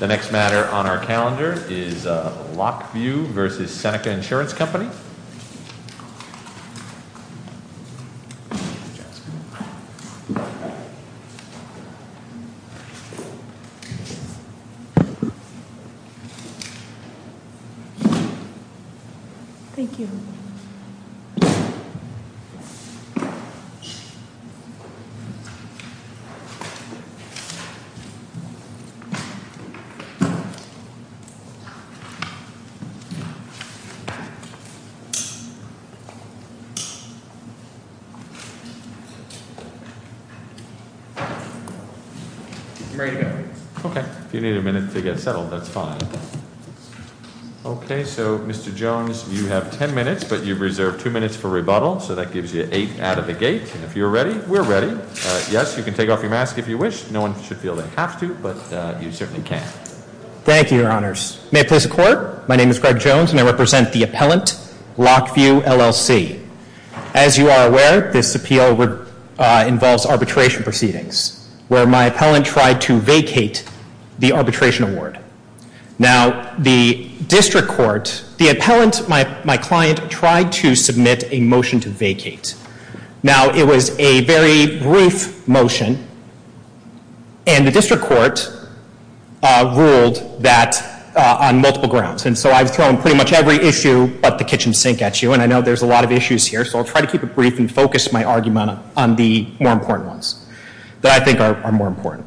The next matter on our calendar is Lock View v. Seneca Insurance Company. Okay, if you need a minute to get settled, that's fine. Okay, so Mr. Jones, you have 10 minutes, but you've reserved two minutes for rebuttal. So that gives you eight out of the gate, and if you're ready, we're ready. Yes, you can take off your mask if you wish. No one should feel they have to, but you certainly can. Thank you, Your Honors. May it please the Court, my name is Greg Jones, and I represent the appellant, Lock View LLC. As you are aware, this appeal involves arbitration proceedings, where my appellant tried to vacate the arbitration award. Now, the district court, the appellant, my client, tried to submit a motion to vacate. Now, it was a very brief motion, and the district court ruled that on multiple grounds. And so I've thrown pretty much every issue but the kitchen sink at you, and I know there's a lot of issues here, so I'll try to keep it brief and focus my argument on the more important ones that I think are more important.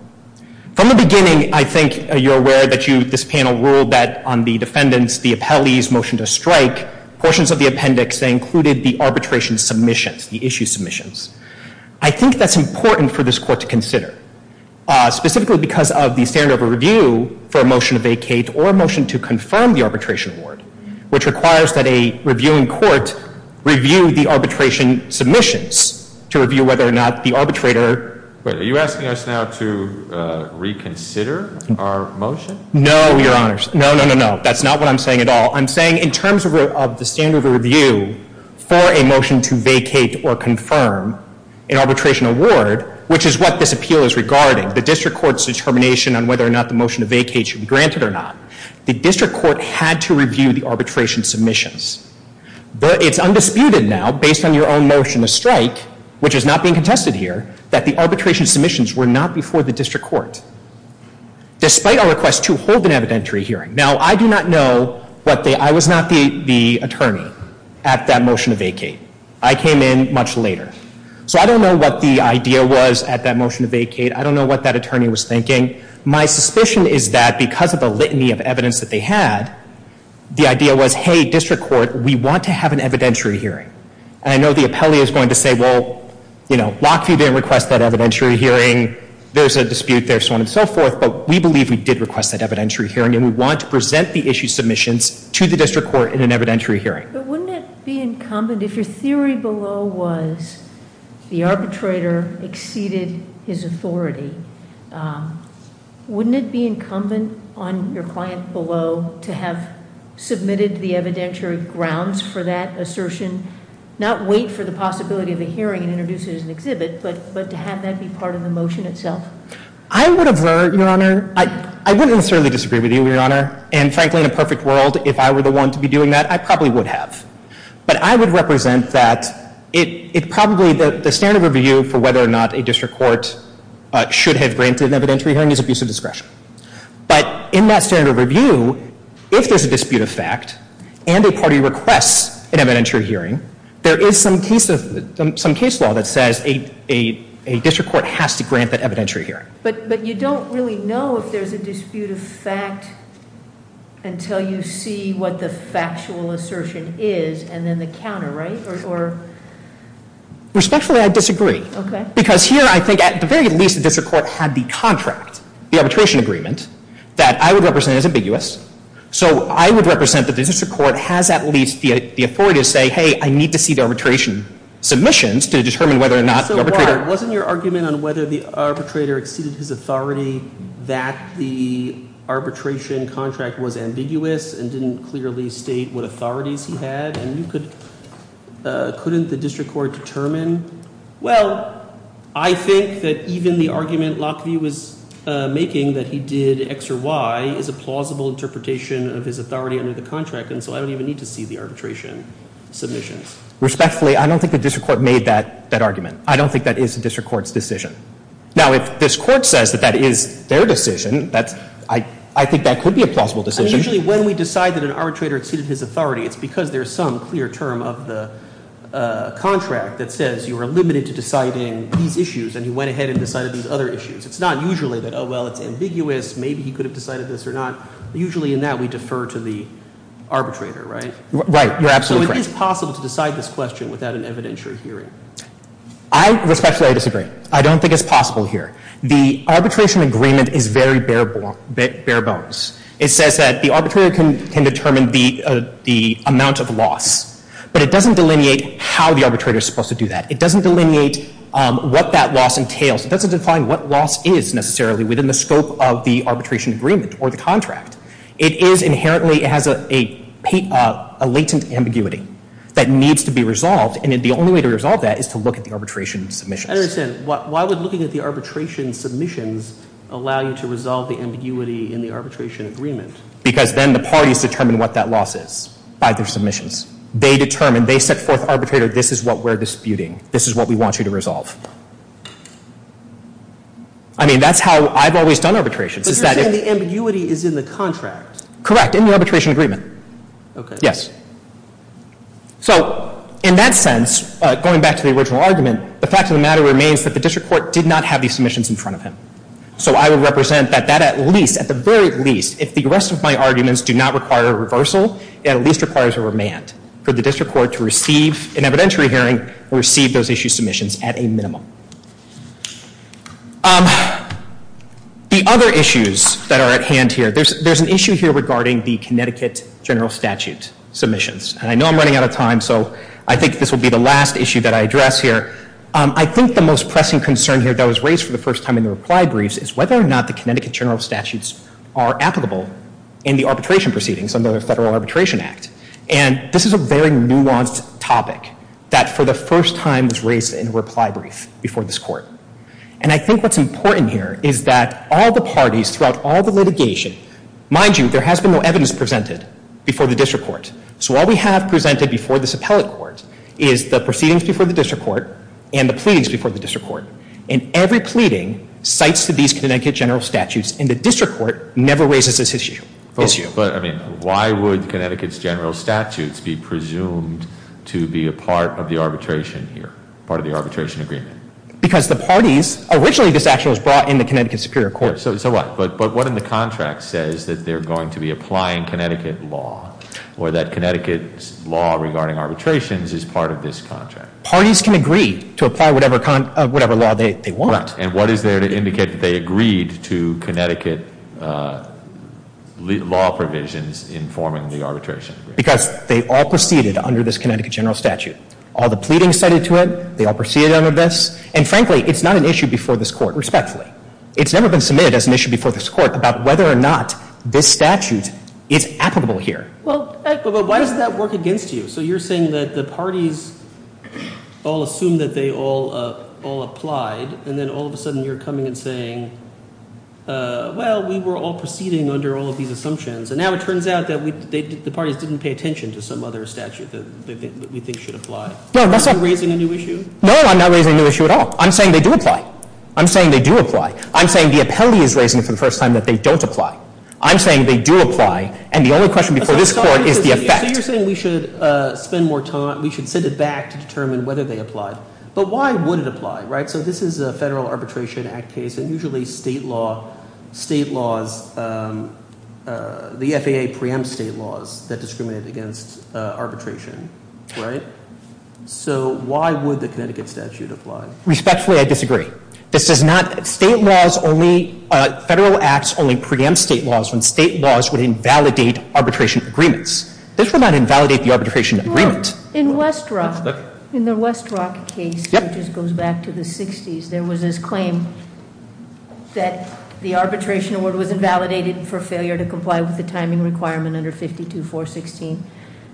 From the beginning, I think you're aware that this panel ruled that on the defendants, the appellee's motion to strike, portions of the appendix, they included the arbitration submissions, the issue submissions. I think that's important for this Court to consider, specifically because of the standard of review for a motion to vacate or a motion to confirm the arbitration award, which requires that a reviewing court review the arbitration submissions to review whether or not the arbitrator… reconsider our motion? No, Your Honors. No, no, no, no. That's not what I'm saying at all. I'm saying in terms of the standard of review for a motion to vacate or confirm an arbitration award, which is what this appeal is regarding, the district court's determination on whether or not the motion to vacate should be granted or not, the district court had to review the arbitration submissions. But it's undisputed now, based on your own motion to strike, which is not being contested here, that the arbitration submissions were not before the district court, despite our request to hold an evidentiary hearing. Now, I do not know what the… I was not the attorney at that motion to vacate. I came in much later. So I don't know what the idea was at that motion to vacate. I don't know what that attorney was thinking. My suspicion is that because of the litany of evidence that they had, the idea was, hey, district court, we want to have an evidentiary hearing. And I know the appellee is going to say, well, Lockheed didn't request that evidentiary hearing. There's a dispute there, so on and so forth. But we believe we did request that evidentiary hearing, and we want to present the issue submissions to the district court in an evidentiary hearing. But wouldn't it be incumbent, if your theory below was the arbitrator exceeded his authority, wouldn't it be incumbent on your client below to have submitted the evidentiary grounds for that assertion, not wait for the possibility of a hearing and introduce it as an exhibit, but to have that be part of the motion itself? I would avert, Your Honor. I wouldn't necessarily disagree with you, Your Honor. And frankly, in a perfect world, if I were the one to be doing that, I probably would have. But I would represent that it probably, the standard of review for whether or not a district court should have granted an evidentiary hearing is abuse of discretion. But in that standard of review, if there's a dispute of fact and a party requests an evidentiary hearing, there is some case law that says a district court has to grant that evidentiary hearing. But you don't really know if there's a dispute of fact until you see what the factual assertion is and then the counter, right? Respectfully, I disagree. Okay. Because here, I think at the very least, the district court had the contract, the arbitration agreement, that I would represent as ambiguous. So I would represent that the district court has at least the authority to say, hey, I need to see the arbitration submissions to determine whether or not the arbitrator- I mean, he presented his authority that the arbitration contract was ambiguous and didn't clearly state what authorities he had. And you could, couldn't the district court determine? Well, I think that even the argument Lockheed was making that he did X or Y is a plausible interpretation of his authority under the contract. And so I don't even need to see the arbitration submissions. Respectfully, I don't think the district court made that argument. I don't think that is the district court's decision. Now, if this court says that that is their decision, that's, I think that could be a plausible decision. I mean, usually when we decide that an arbitrator exceeded his authority, it's because there's some clear term of the contract that says you are limited to deciding these issues and he went ahead and decided these other issues. It's not usually that, oh, well, it's ambiguous, maybe he could have decided this or not. Usually in that we defer to the arbitrator, right? Right. You're absolutely correct. So it is possible to decide this question without an evidentiary hearing. I, respectfully, I disagree. I don't think it's possible here. The arbitration agreement is very bare bones. It says that the arbitrator can determine the amount of loss, but it doesn't delineate how the arbitrator is supposed to do that. It doesn't delineate what that loss entails. It doesn't define what loss is necessarily within the scope of the arbitration agreement or the contract. It is inherently, it has a latent ambiguity that needs to be resolved, and the only way to resolve that is to look at the arbitration submissions. I understand. Why would looking at the arbitration submissions allow you to resolve the ambiguity in the arbitration agreement? Because then the parties determine what that loss is by their submissions. They determine, they set forth to the arbitrator, this is what we're disputing. This is what we want you to resolve. I mean, that's how I've always done arbitrations. But you're saying the ambiguity is in the contract. Correct, in the arbitration agreement. Okay. Yes. So in that sense, going back to the original argument, the fact of the matter remains that the district court did not have these submissions in front of him. So I would represent that that at least, at the very least, if the rest of my arguments do not require a reversal, it at least requires a remand for the district court to receive an evidentiary hearing and receive those issue submissions at a minimum. The other issues that are at hand here, there's an issue here regarding the Connecticut general statute submissions. And I know I'm running out of time, so I think this will be the last issue that I address here. I think the most pressing concern here that was raised for the first time in the reply briefs is whether or not the Connecticut general statutes are applicable in the arbitration proceedings under the Federal Arbitration Act. And this is a very nuanced topic that for the first time was raised in a reply brief before this court. And I think what's important here is that all the parties throughout all the litigation, mind you, there has been no evidence presented before the district court. So all we have presented before this appellate court is the proceedings before the district court and the pleadings before the district court. And every pleading cites to these Connecticut general statutes, and the district court never raises this issue. But, I mean, why would Connecticut's general statutes be presumed to be a part of the arbitration here, part of the arbitration agreement? Because the parties, originally this action was brought in the Connecticut Superior Court. So what? But what in the contract says that they're going to be applying Connecticut law, or that Connecticut's law regarding arbitrations is part of this contract? Parties can agree to apply whatever law they want. And what is there to indicate that they agreed to Connecticut law provisions in forming the arbitration agreement? Because they all proceeded under this Connecticut general statute. All the pleadings cited to it, they all proceeded under this. And frankly, it's not an issue before this court, respectfully. It's never been submitted as an issue before this court about whether or not this statute is applicable here. Well, but why does that work against you? So you're saying that the parties all assume that they all applied, and then all of a sudden you're coming and saying, well, we were all proceeding under all of these assumptions, and now it turns out that the parties didn't pay attention to some other statute that we think should apply. Are you raising a new issue? No, I'm not raising a new issue at all. I'm saying they do apply. I'm saying they do apply. I'm saying the appellee is raising it for the first time that they don't apply. I'm saying they do apply, and the only question before this court is the effect. So you're saying we should spend more time, we should send it back to determine whether they applied. But why would it apply, right? So this is a Federal Arbitration Act case, and usually state laws, the FAA preempts state laws that discriminate against arbitration, right? So why would the Connecticut statute apply? Respectfully, I disagree. This does not, state laws only, Federal Acts only preempt state laws when state laws would invalidate arbitration agreements. This would not invalidate the arbitration agreement. In West Rock, in the West Rock case, which goes back to the 60s, there was this claim that the arbitration award was invalidated for failure to comply with the timing requirement under 52-416.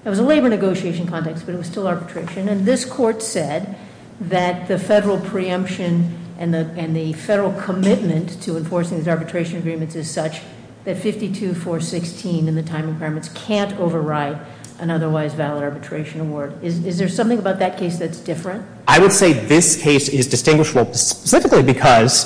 It was a labor negotiation context, but it was still arbitration. And this court said that the Federal preemption and the Federal commitment to enforcing these arbitration agreements is such that 52-416 and the timing requirements can't override an otherwise valid arbitration award. Is there something about that case that's different? I would say this case is distinguishable specifically because,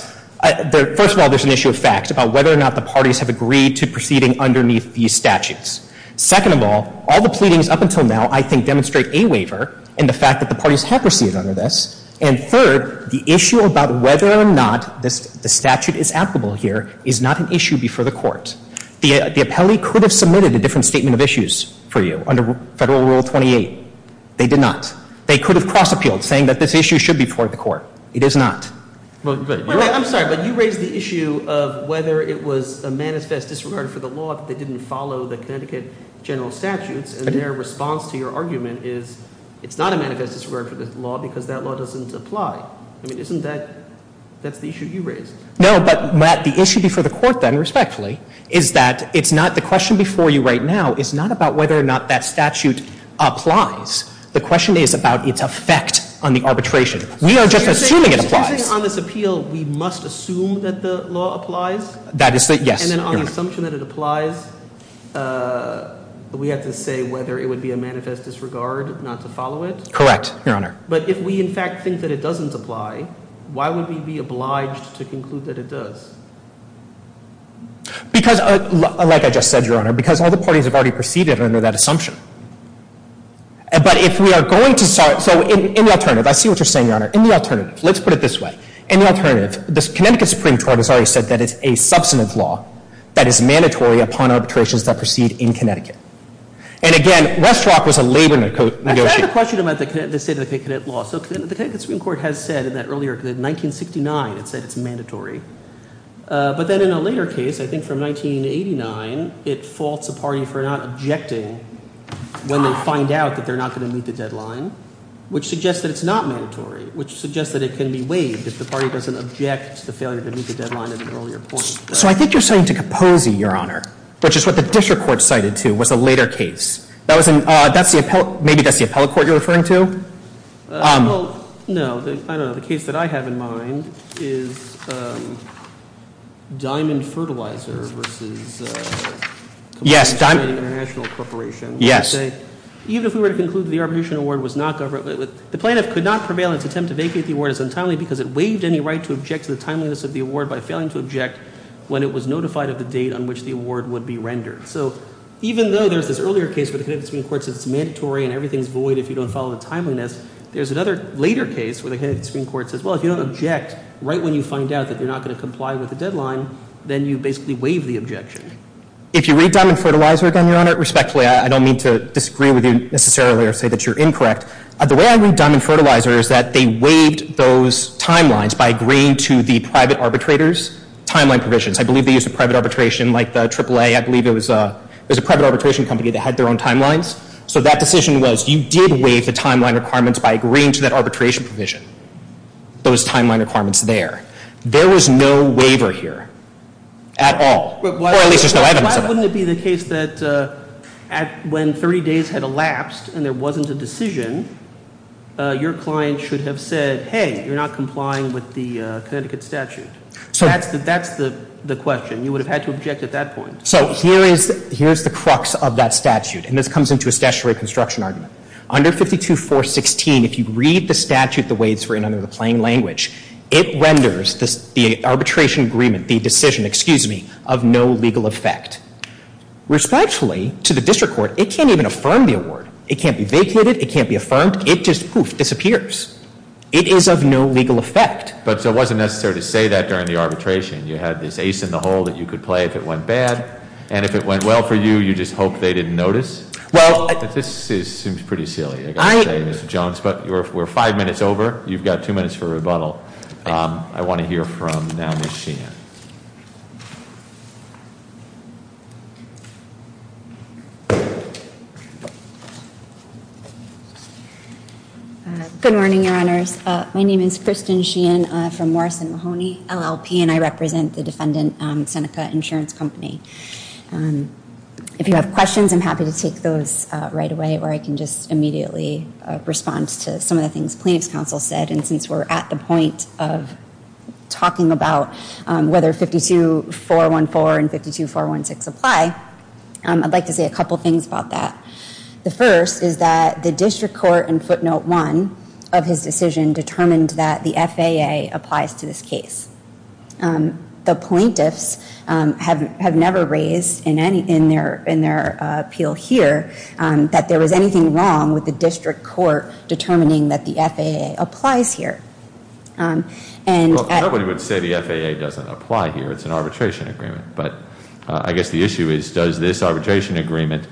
first of all, there's an issue of fact about whether or not the parties have agreed to proceeding underneath these statutes. Second of all, all the pleadings up until now, I think, demonstrate a waiver in the fact that the parties have proceeded under this. And third, the issue about whether or not the statute is applicable here is not an issue before the court. The appellee could have submitted a different statement of issues for you under Federal Rule 28. They did not. They could have cross-appealed, saying that this issue should be before the court. It is not. I'm sorry, but you raised the issue of whether it was a manifest disregard for the law if they didn't follow the Connecticut general statutes. And their response to your argument is it's not a manifest disregard for the law because that law doesn't apply. I mean, isn't that – that's the issue you raised. No, but Matt, the issue before the court then, respectfully, is that it's not – the question before you right now is not about whether or not that statute applies. The question is about its effect on the arbitration. We are just assuming it applies. So you're saying on this appeal we must assume that the law applies? That is the – yes, Your Honor. And then on the assumption that it applies, we have to say whether it would be a manifest disregard not to follow it? Correct, Your Honor. But if we, in fact, think that it doesn't apply, why would we be obliged to conclude that it does? Because, like I just said, Your Honor, because all the parties have already proceeded under that assumption. But if we are going to start – so in the alternative, I see what you're saying, Your Honor. In the alternative, let's put it this way. In the alternative, the Connecticut Supreme Court has already said that it's a substantive law that is mandatory upon arbitrations that proceed in Connecticut. And again, Westrock was a labor negotiator. I have a question about the state of the Connecticut law. So the Connecticut Supreme Court has said in that earlier – in 1969 it said it's mandatory. But then in a later case, I think from 1989, it faults a party for not objecting when they find out that they're not going to meet the deadline, which suggests that it's not mandatory, which suggests that it can be waived if the party doesn't object to the failure to meet the deadline at an earlier point. So I think you're saying to Capozzi, Your Honor, which is what the district court cited to, was a later case. That was in – that's the – maybe that's the appellate court you're referring to? Well, no, I don't know. The case that I have in mind is Diamond Fertilizer versus – Yes, Diamond – International Corporation. Yes. Even if we were to conclude that the arbitration award was not – the plaintiff could not prevail in its attempt to vacate the award as untimely because it waived any right to object to the timeliness of the award by failing to object when it was notified of the date on which the award would be rendered. So even though there's this earlier case where the Connecticut Supreme Court said it's mandatory and everything's void if you don't follow the timeliness, there's another later case where the Connecticut Supreme Court says, well, if you don't object right when you find out that you're not going to comply with the deadline, then you basically waive the objection. If you read Diamond Fertilizer again, Your Honor, respectfully, I don't mean to disagree with you necessarily or say that you're incorrect. The way I read Diamond Fertilizer is that they waived those timelines by agreeing to the private arbitrator's timeline provisions. I believe they used a private arbitration like the AAA. I believe it was – it was a private arbitration company that had their own timelines. So that decision was you did waive the timeline requirements by agreeing to that arbitration provision, those timeline requirements there. There was no waiver here at all, or at least there's no evidence of it. Why wouldn't it be the case that when 30 days had elapsed and there wasn't a decision, your client should have said, hey, you're not complying with the Connecticut statute? That's the question. You would have had to object at that point. So here is the crux of that statute, and this comes into a statutory construction argument. Under 52416, if you read the statute the way it's written under the plain language, it renders the arbitration agreement, the decision, excuse me, of no legal effect. Respectfully, to the district court, it can't even affirm the award. It can't be vacated. It can't be affirmed. It just poof, disappears. It is of no legal effect. But it wasn't necessary to say that during the arbitration. You had this ace in the hole that you could play if it went bad, and if it went well for you, you just hoped they didn't notice? This seems pretty silly, I've got to say, Mr. Jones, but we're five minutes over. You've got two minutes for rebuttal. I want to hear from now Ms. Sheehan. Good morning, Your Honors. My name is Kristen Sheehan from Morrison Mahoney, LLP, and I represent the defendant Seneca Insurance Company. If you have questions, I'm happy to take those right away, or I can just immediately respond to some of the things plaintiff's counsel said. And since we're at the point of talking about whether 52414 and 52416 apply, I'd like to say a couple things about that. The first is that the district court in footnote one of his decision determined that the FAA applies to this case. The plaintiffs have never raised in their appeal here that there was anything wrong with the district court determining that the FAA applies here. Nobody would say the FAA doesn't apply here. It's an arbitration agreement. But I guess the issue is does this arbitration agreement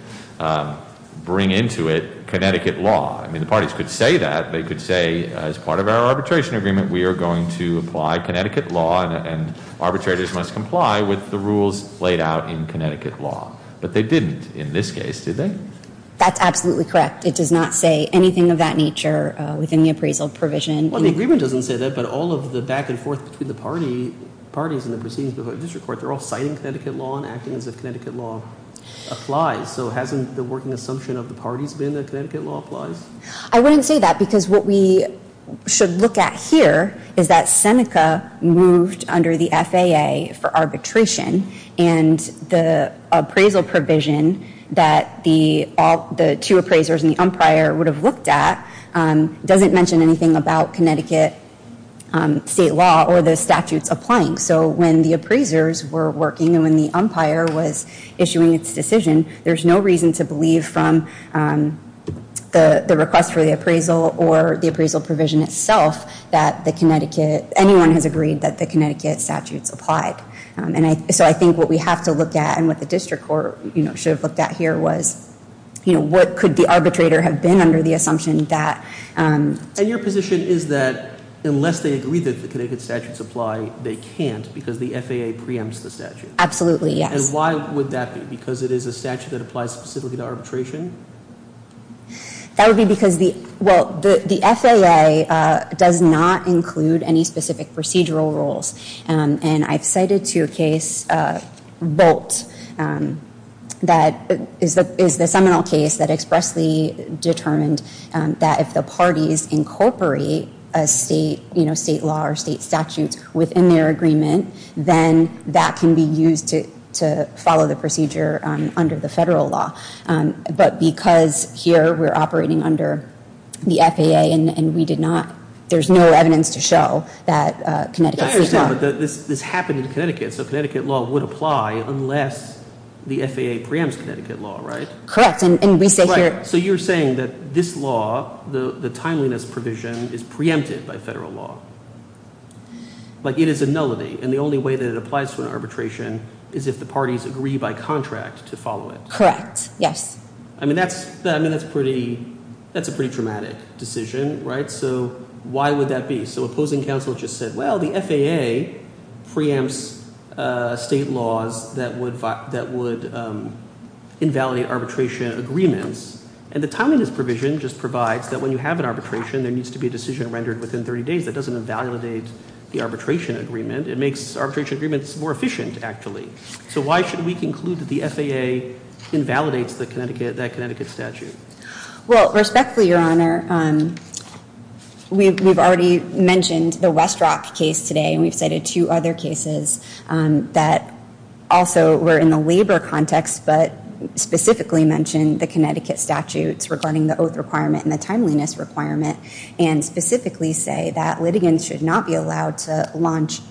bring into it Connecticut law? I mean, the parties could say that. They could say as part of our arbitration agreement we are going to apply Connecticut law and arbitrators must comply with the rules laid out in Connecticut law. But they didn't in this case, did they? That's absolutely correct. It does not say anything of that nature within the appraisal provision. Well, the agreement doesn't say that, but all of the back and forth between the parties in the proceedings before the district court, they're all citing Connecticut law and acting as if Connecticut law applies. So hasn't the working assumption of the parties been that Connecticut law applies? I wouldn't say that because what we should look at here is that Seneca moved under the FAA for arbitration and the appraisal provision that the two appraisers and the umpire would have looked at doesn't mention anything about Connecticut state law or the statutes applying. So when the appraisers were working and when the umpire was issuing its decision, there's no reason to believe from the request for the appraisal or the appraisal provision itself that anyone has agreed that the Connecticut statutes applied. So I think what we have to look at and what the district court should have looked at here was what could the arbitrator have been under the assumption that- And your position is that unless they agree that the Connecticut statutes apply, they can't because the FAA preempts the statute. Absolutely, yes. And why would that be? Because it is a statute that applies specifically to arbitration? That would be because the FAA does not include any specific procedural rules. And I've cited to a case, Bolt, that is the seminal case that expressly determined that if the parties incorporate a state law or state statute within their agreement, then that can be used to follow the procedure under the federal law. But because here we're operating under the FAA and we did not- I understand, but this happened in Connecticut, so Connecticut law would apply unless the FAA preempts Connecticut law, right? Correct, and we say here- Right, so you're saying that this law, the timeliness provision, is preempted by federal law. Like it is a nullity, and the only way that it applies to an arbitration is if the parties agree by contract to follow it. Correct, yes. I mean, that's a pretty dramatic decision, right? So why would that be? So opposing counsel just said, well, the FAA preempts state laws that would invalidate arbitration agreements. And the timeliness provision just provides that when you have an arbitration, there needs to be a decision rendered within 30 days. That doesn't invalidate the arbitration agreement. It makes arbitration agreements more efficient, actually. So why should we conclude that the FAA invalidates that Connecticut statute? Well, respectfully, Your Honor, we've already mentioned the Westrock case today, and we've cited two other cases that also were in the labor context, but specifically mentioned the Connecticut statutes regarding the oath requirement and the timeliness requirement, and specifically say that litigants should not be allowed to launch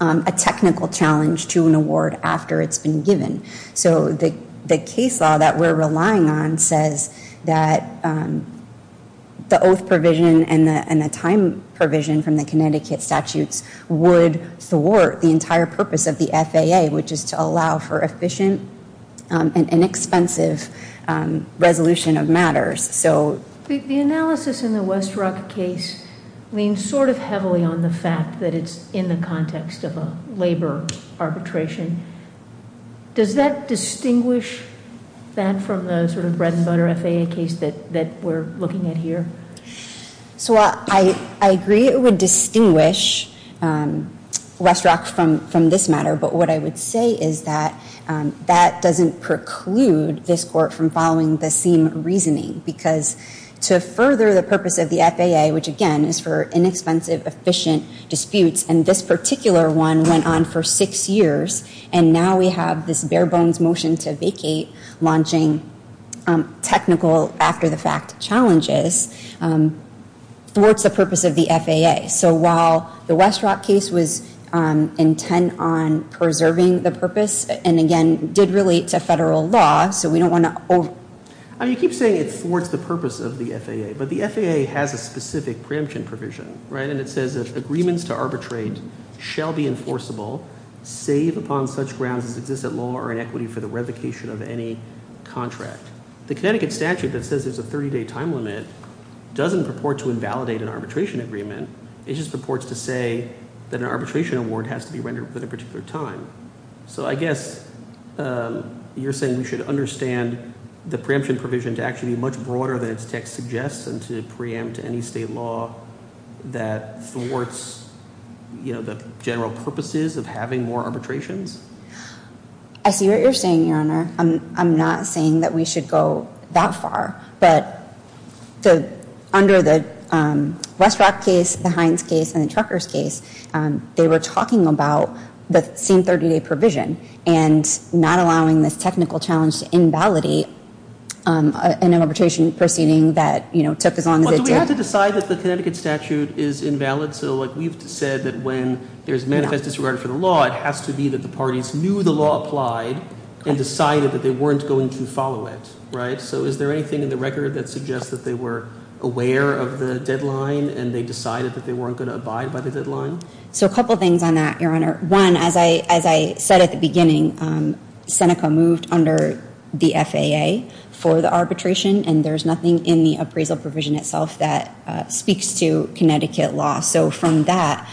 a technical challenge to an award after it's been given. So the case law that we're relying on says that the oath provision and the time provision from the Connecticut statutes would thwart the entire purpose of the FAA, which is to allow for efficient and inexpensive resolution of matters. The analysis in the Westrock case leans sort of heavily on the fact that it's in the context of a labor arbitration. Does that distinguish that from the sort of bread and butter FAA case that we're looking at here? So I agree it would distinguish Westrock from this matter, but what I would say is that that doesn't preclude this Court from following the same reasoning, because to further the purpose of the FAA, which, again, is for inexpensive, efficient disputes, and this particular one went on for six years, and now we have this bare-bones motion to vacate, launching technical after-the-fact challenges, thwarts the purpose of the FAA. So while the Westrock case was intent on preserving the purpose and, again, did relate to federal law, so we don't want to over- You keep saying it thwarts the purpose of the FAA, but the FAA has a specific preemption provision, right? And it says that agreements to arbitrate shall be enforceable, save upon such grounds as existent law or inequity for the revocation of any contract. The Connecticut statute that says there's a 30-day time limit doesn't purport to invalidate an arbitration agreement. It just purports to say that an arbitration award has to be rendered within a particular time. So I guess you're saying we should understand the preemption provision to actually be much broader than its text suggests and to preempt any state law that thwarts the general purposes of having more arbitrations? I see what you're saying, Your Honor. I'm not saying that we should go that far, but under the Westrock case, the Hines case, and the Truckers case, they were talking about the same 30-day provision and not allowing this technical challenge to invalidate an arbitration proceeding that took as long as it did. But do we have to decide that the Connecticut statute is invalid? So we've said that when there's manifest disregard for the law, it has to be that the parties knew the law applied and decided that they weren't going to follow it, right? So is there anything in the record that suggests that they were aware of the deadline and they decided that they weren't going to abide by the deadline? So a couple things on that, Your Honor. One, as I said at the beginning, Seneca moved under the FAA for the arbitration, and there's nothing in the appraisal provision itself that speaks to Connecticut law. So from that,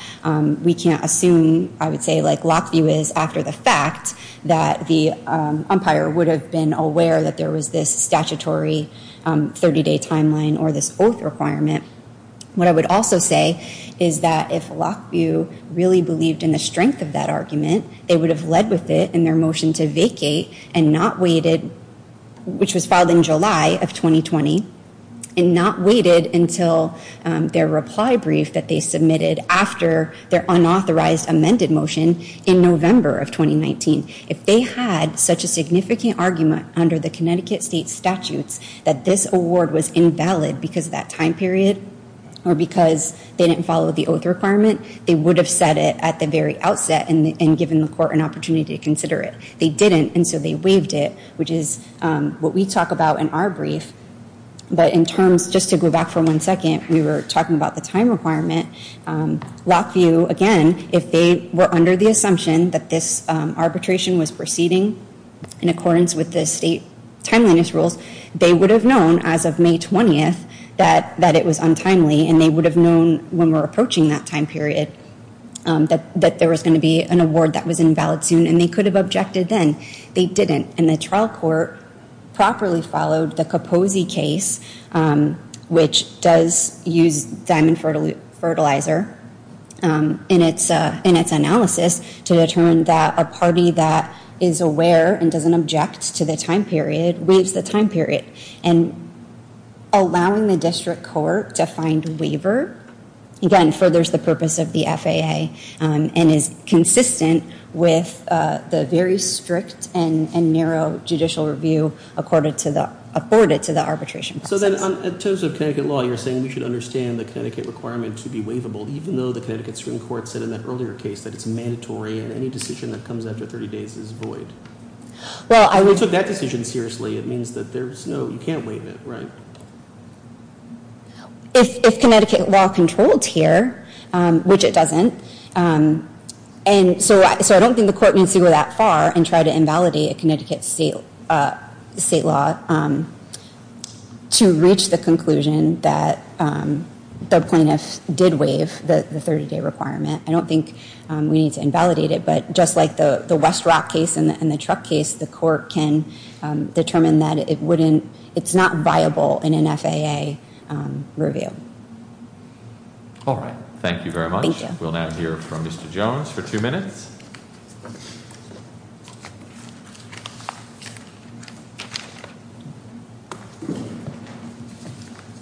we can't assume, I would say, like Lockview is, after the fact that the umpire would have been aware that there was this statutory 30-day timeline or this oath requirement. What I would also say is that if Lockview really believed in the strength of that argument, they would have led with it in their motion to vacate and not waited, which was filed in July of 2020, and not waited until their reply brief that they submitted after their unauthorized amended motion in November of 2019. If they had such a significant argument under the Connecticut state statutes that this award was invalid because of that time period or because they didn't follow the oath requirement, they would have said it at the very outset and given the court an opportunity to consider it. They didn't, and so they waived it, which is what we talk about in our brief. But in terms, just to go back for one second, we were talking about the time requirement. Lockview, again, if they were under the assumption that this arbitration was proceeding in accordance with the state timeliness rules, they would have known as of May 20th that it was untimely, and they would have known when we're approaching that time period that there was going to be an award that was invalid soon, and they could have objected then. They didn't, and the trial court properly followed the Capozzi case, which does use diamond fertilizer in its analysis to determine that a party that is aware and doesn't object to the time period waives the time period. And allowing the district court to find waiver, again, furthers the purpose of the FAA and is consistent with the very strict and narrow judicial review afforded to the arbitration process. So then in terms of Connecticut law, you're saying we should understand the Connecticut requirement to be waivable, even though the Connecticut Supreme Court said in that earlier case that it's mandatory and any decision that comes after 30 days is void. Well, I would take that decision seriously. It means that there's no, you can't waive it, right? If Connecticut law controls here, which it doesn't, and so I don't think the court needs to go that far and try to invalidate a Connecticut state law to reach the conclusion that the plaintiff did waive the 30-day requirement. I don't think we need to invalidate it, but just like the West Rock case and the truck case, the court can determine that it's not viable in an FAA review. All right. Thank you very much. Thank you. We'll now hear from Mr. Jones for two minutes.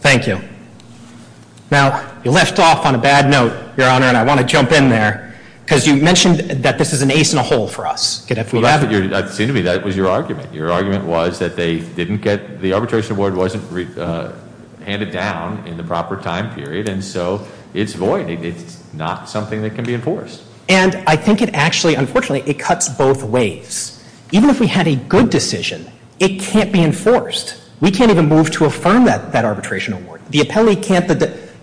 Thank you. Now, you left off on a bad note, Your Honor, and I want to jump in there, because you mentioned that this is an ace in the hole for us. It seemed to me that was your argument. Your argument was that they didn't get, the arbitration award wasn't handed down in the proper time period, and so it's void. It's not something that can be enforced. And I think it actually, unfortunately, it cuts both ways. Even if we had a good decision, it can't be enforced. We can't even move to affirm that arbitration award. The appellee can't,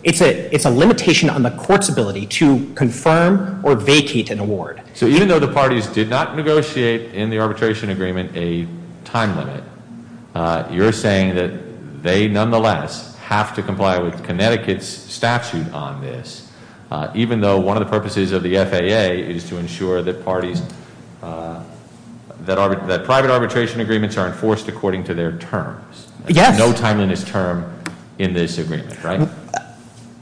it's a limitation on the court's ability to confirm or vacate an award. So even though the parties did not negotiate in the arbitration agreement a time limit, you're saying that they nonetheless have to comply with Connecticut's statute on this, even though one of the purposes of the FAA is to ensure that parties, that private arbitration agreements are enforced according to their terms. Yes. There's no timeliness term in this agreement, right?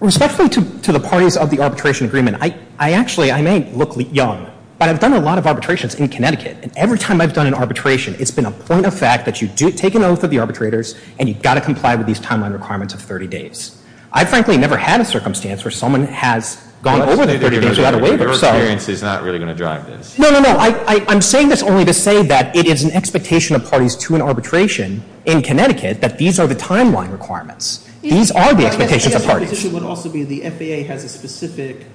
Respectfully to the parties of the arbitration agreement, I actually, I may look young, but I've done a lot of arbitrations in Connecticut, and every time I've done an arbitration, it's been a point of fact that you take an oath of the arbitrators, and you've got to comply with these timeline requirements of 30 days. I, frankly, never had a circumstance where someone has gone over the 30 days without a waiver. Your experience is not really going to drive this. No, no, no. I'm saying this only to say that it is an expectation of parties to an arbitration in Connecticut that these are the timeline requirements. These are the expectations of parties. I guess my position would also be the FAA has a specific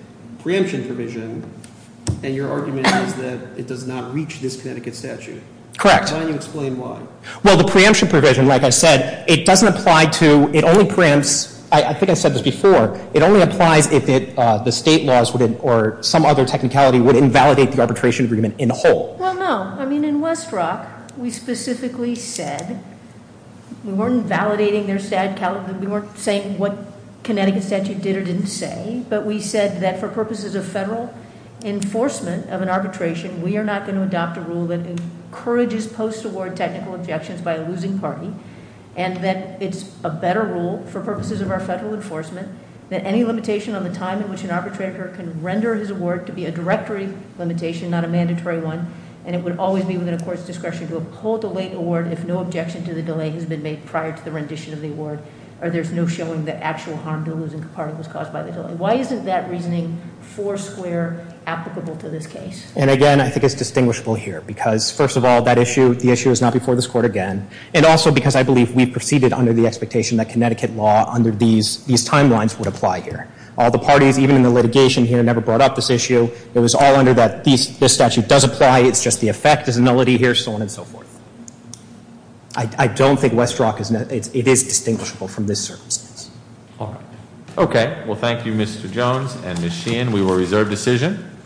preemption provision, and your argument is that it does not reach this Connecticut statute. Correct. Why don't you explain why? Well, the preemption provision, like I said, it doesn't apply to, it only preempts, I think I said this before, it only applies if the state laws or some other technicality would invalidate the arbitration agreement in whole. Well, no. I mean, in Westbrook, we specifically said we weren't validating their, we weren't saying what Connecticut statute did or didn't say, but we said that for purposes of federal enforcement of an arbitration, we are not going to adopt a rule that encourages post-award technical objections by a losing party, and that it's a better rule for purposes of our federal enforcement that any limitation on the time in which an arbitrator can render his award to be a directory limitation, not a mandatory one, and it would always be within a court's discretion to uphold the late award if no objection to the delay has been made prior to the rendition of the award, or there's no showing that actual harm to a losing party was caused by the delay. Why isn't that reasoning four square applicable to this case? And again, I think it's distinguishable here, because first of all, that issue, the issue is not before this court again, and also because I believe we've proceeded under the expectation that Connecticut law under these timelines would apply here. All the parties, even in the litigation here, never brought up this issue. It was all under that this statute does apply, it's just the effect is a nullity here, so on and so forth. I don't think Westbrook is, it is distinguishable from this circumstance. All right. Okay. Well, thank you, Mr. Jones and Ms. Sheehan. We will reserve decision.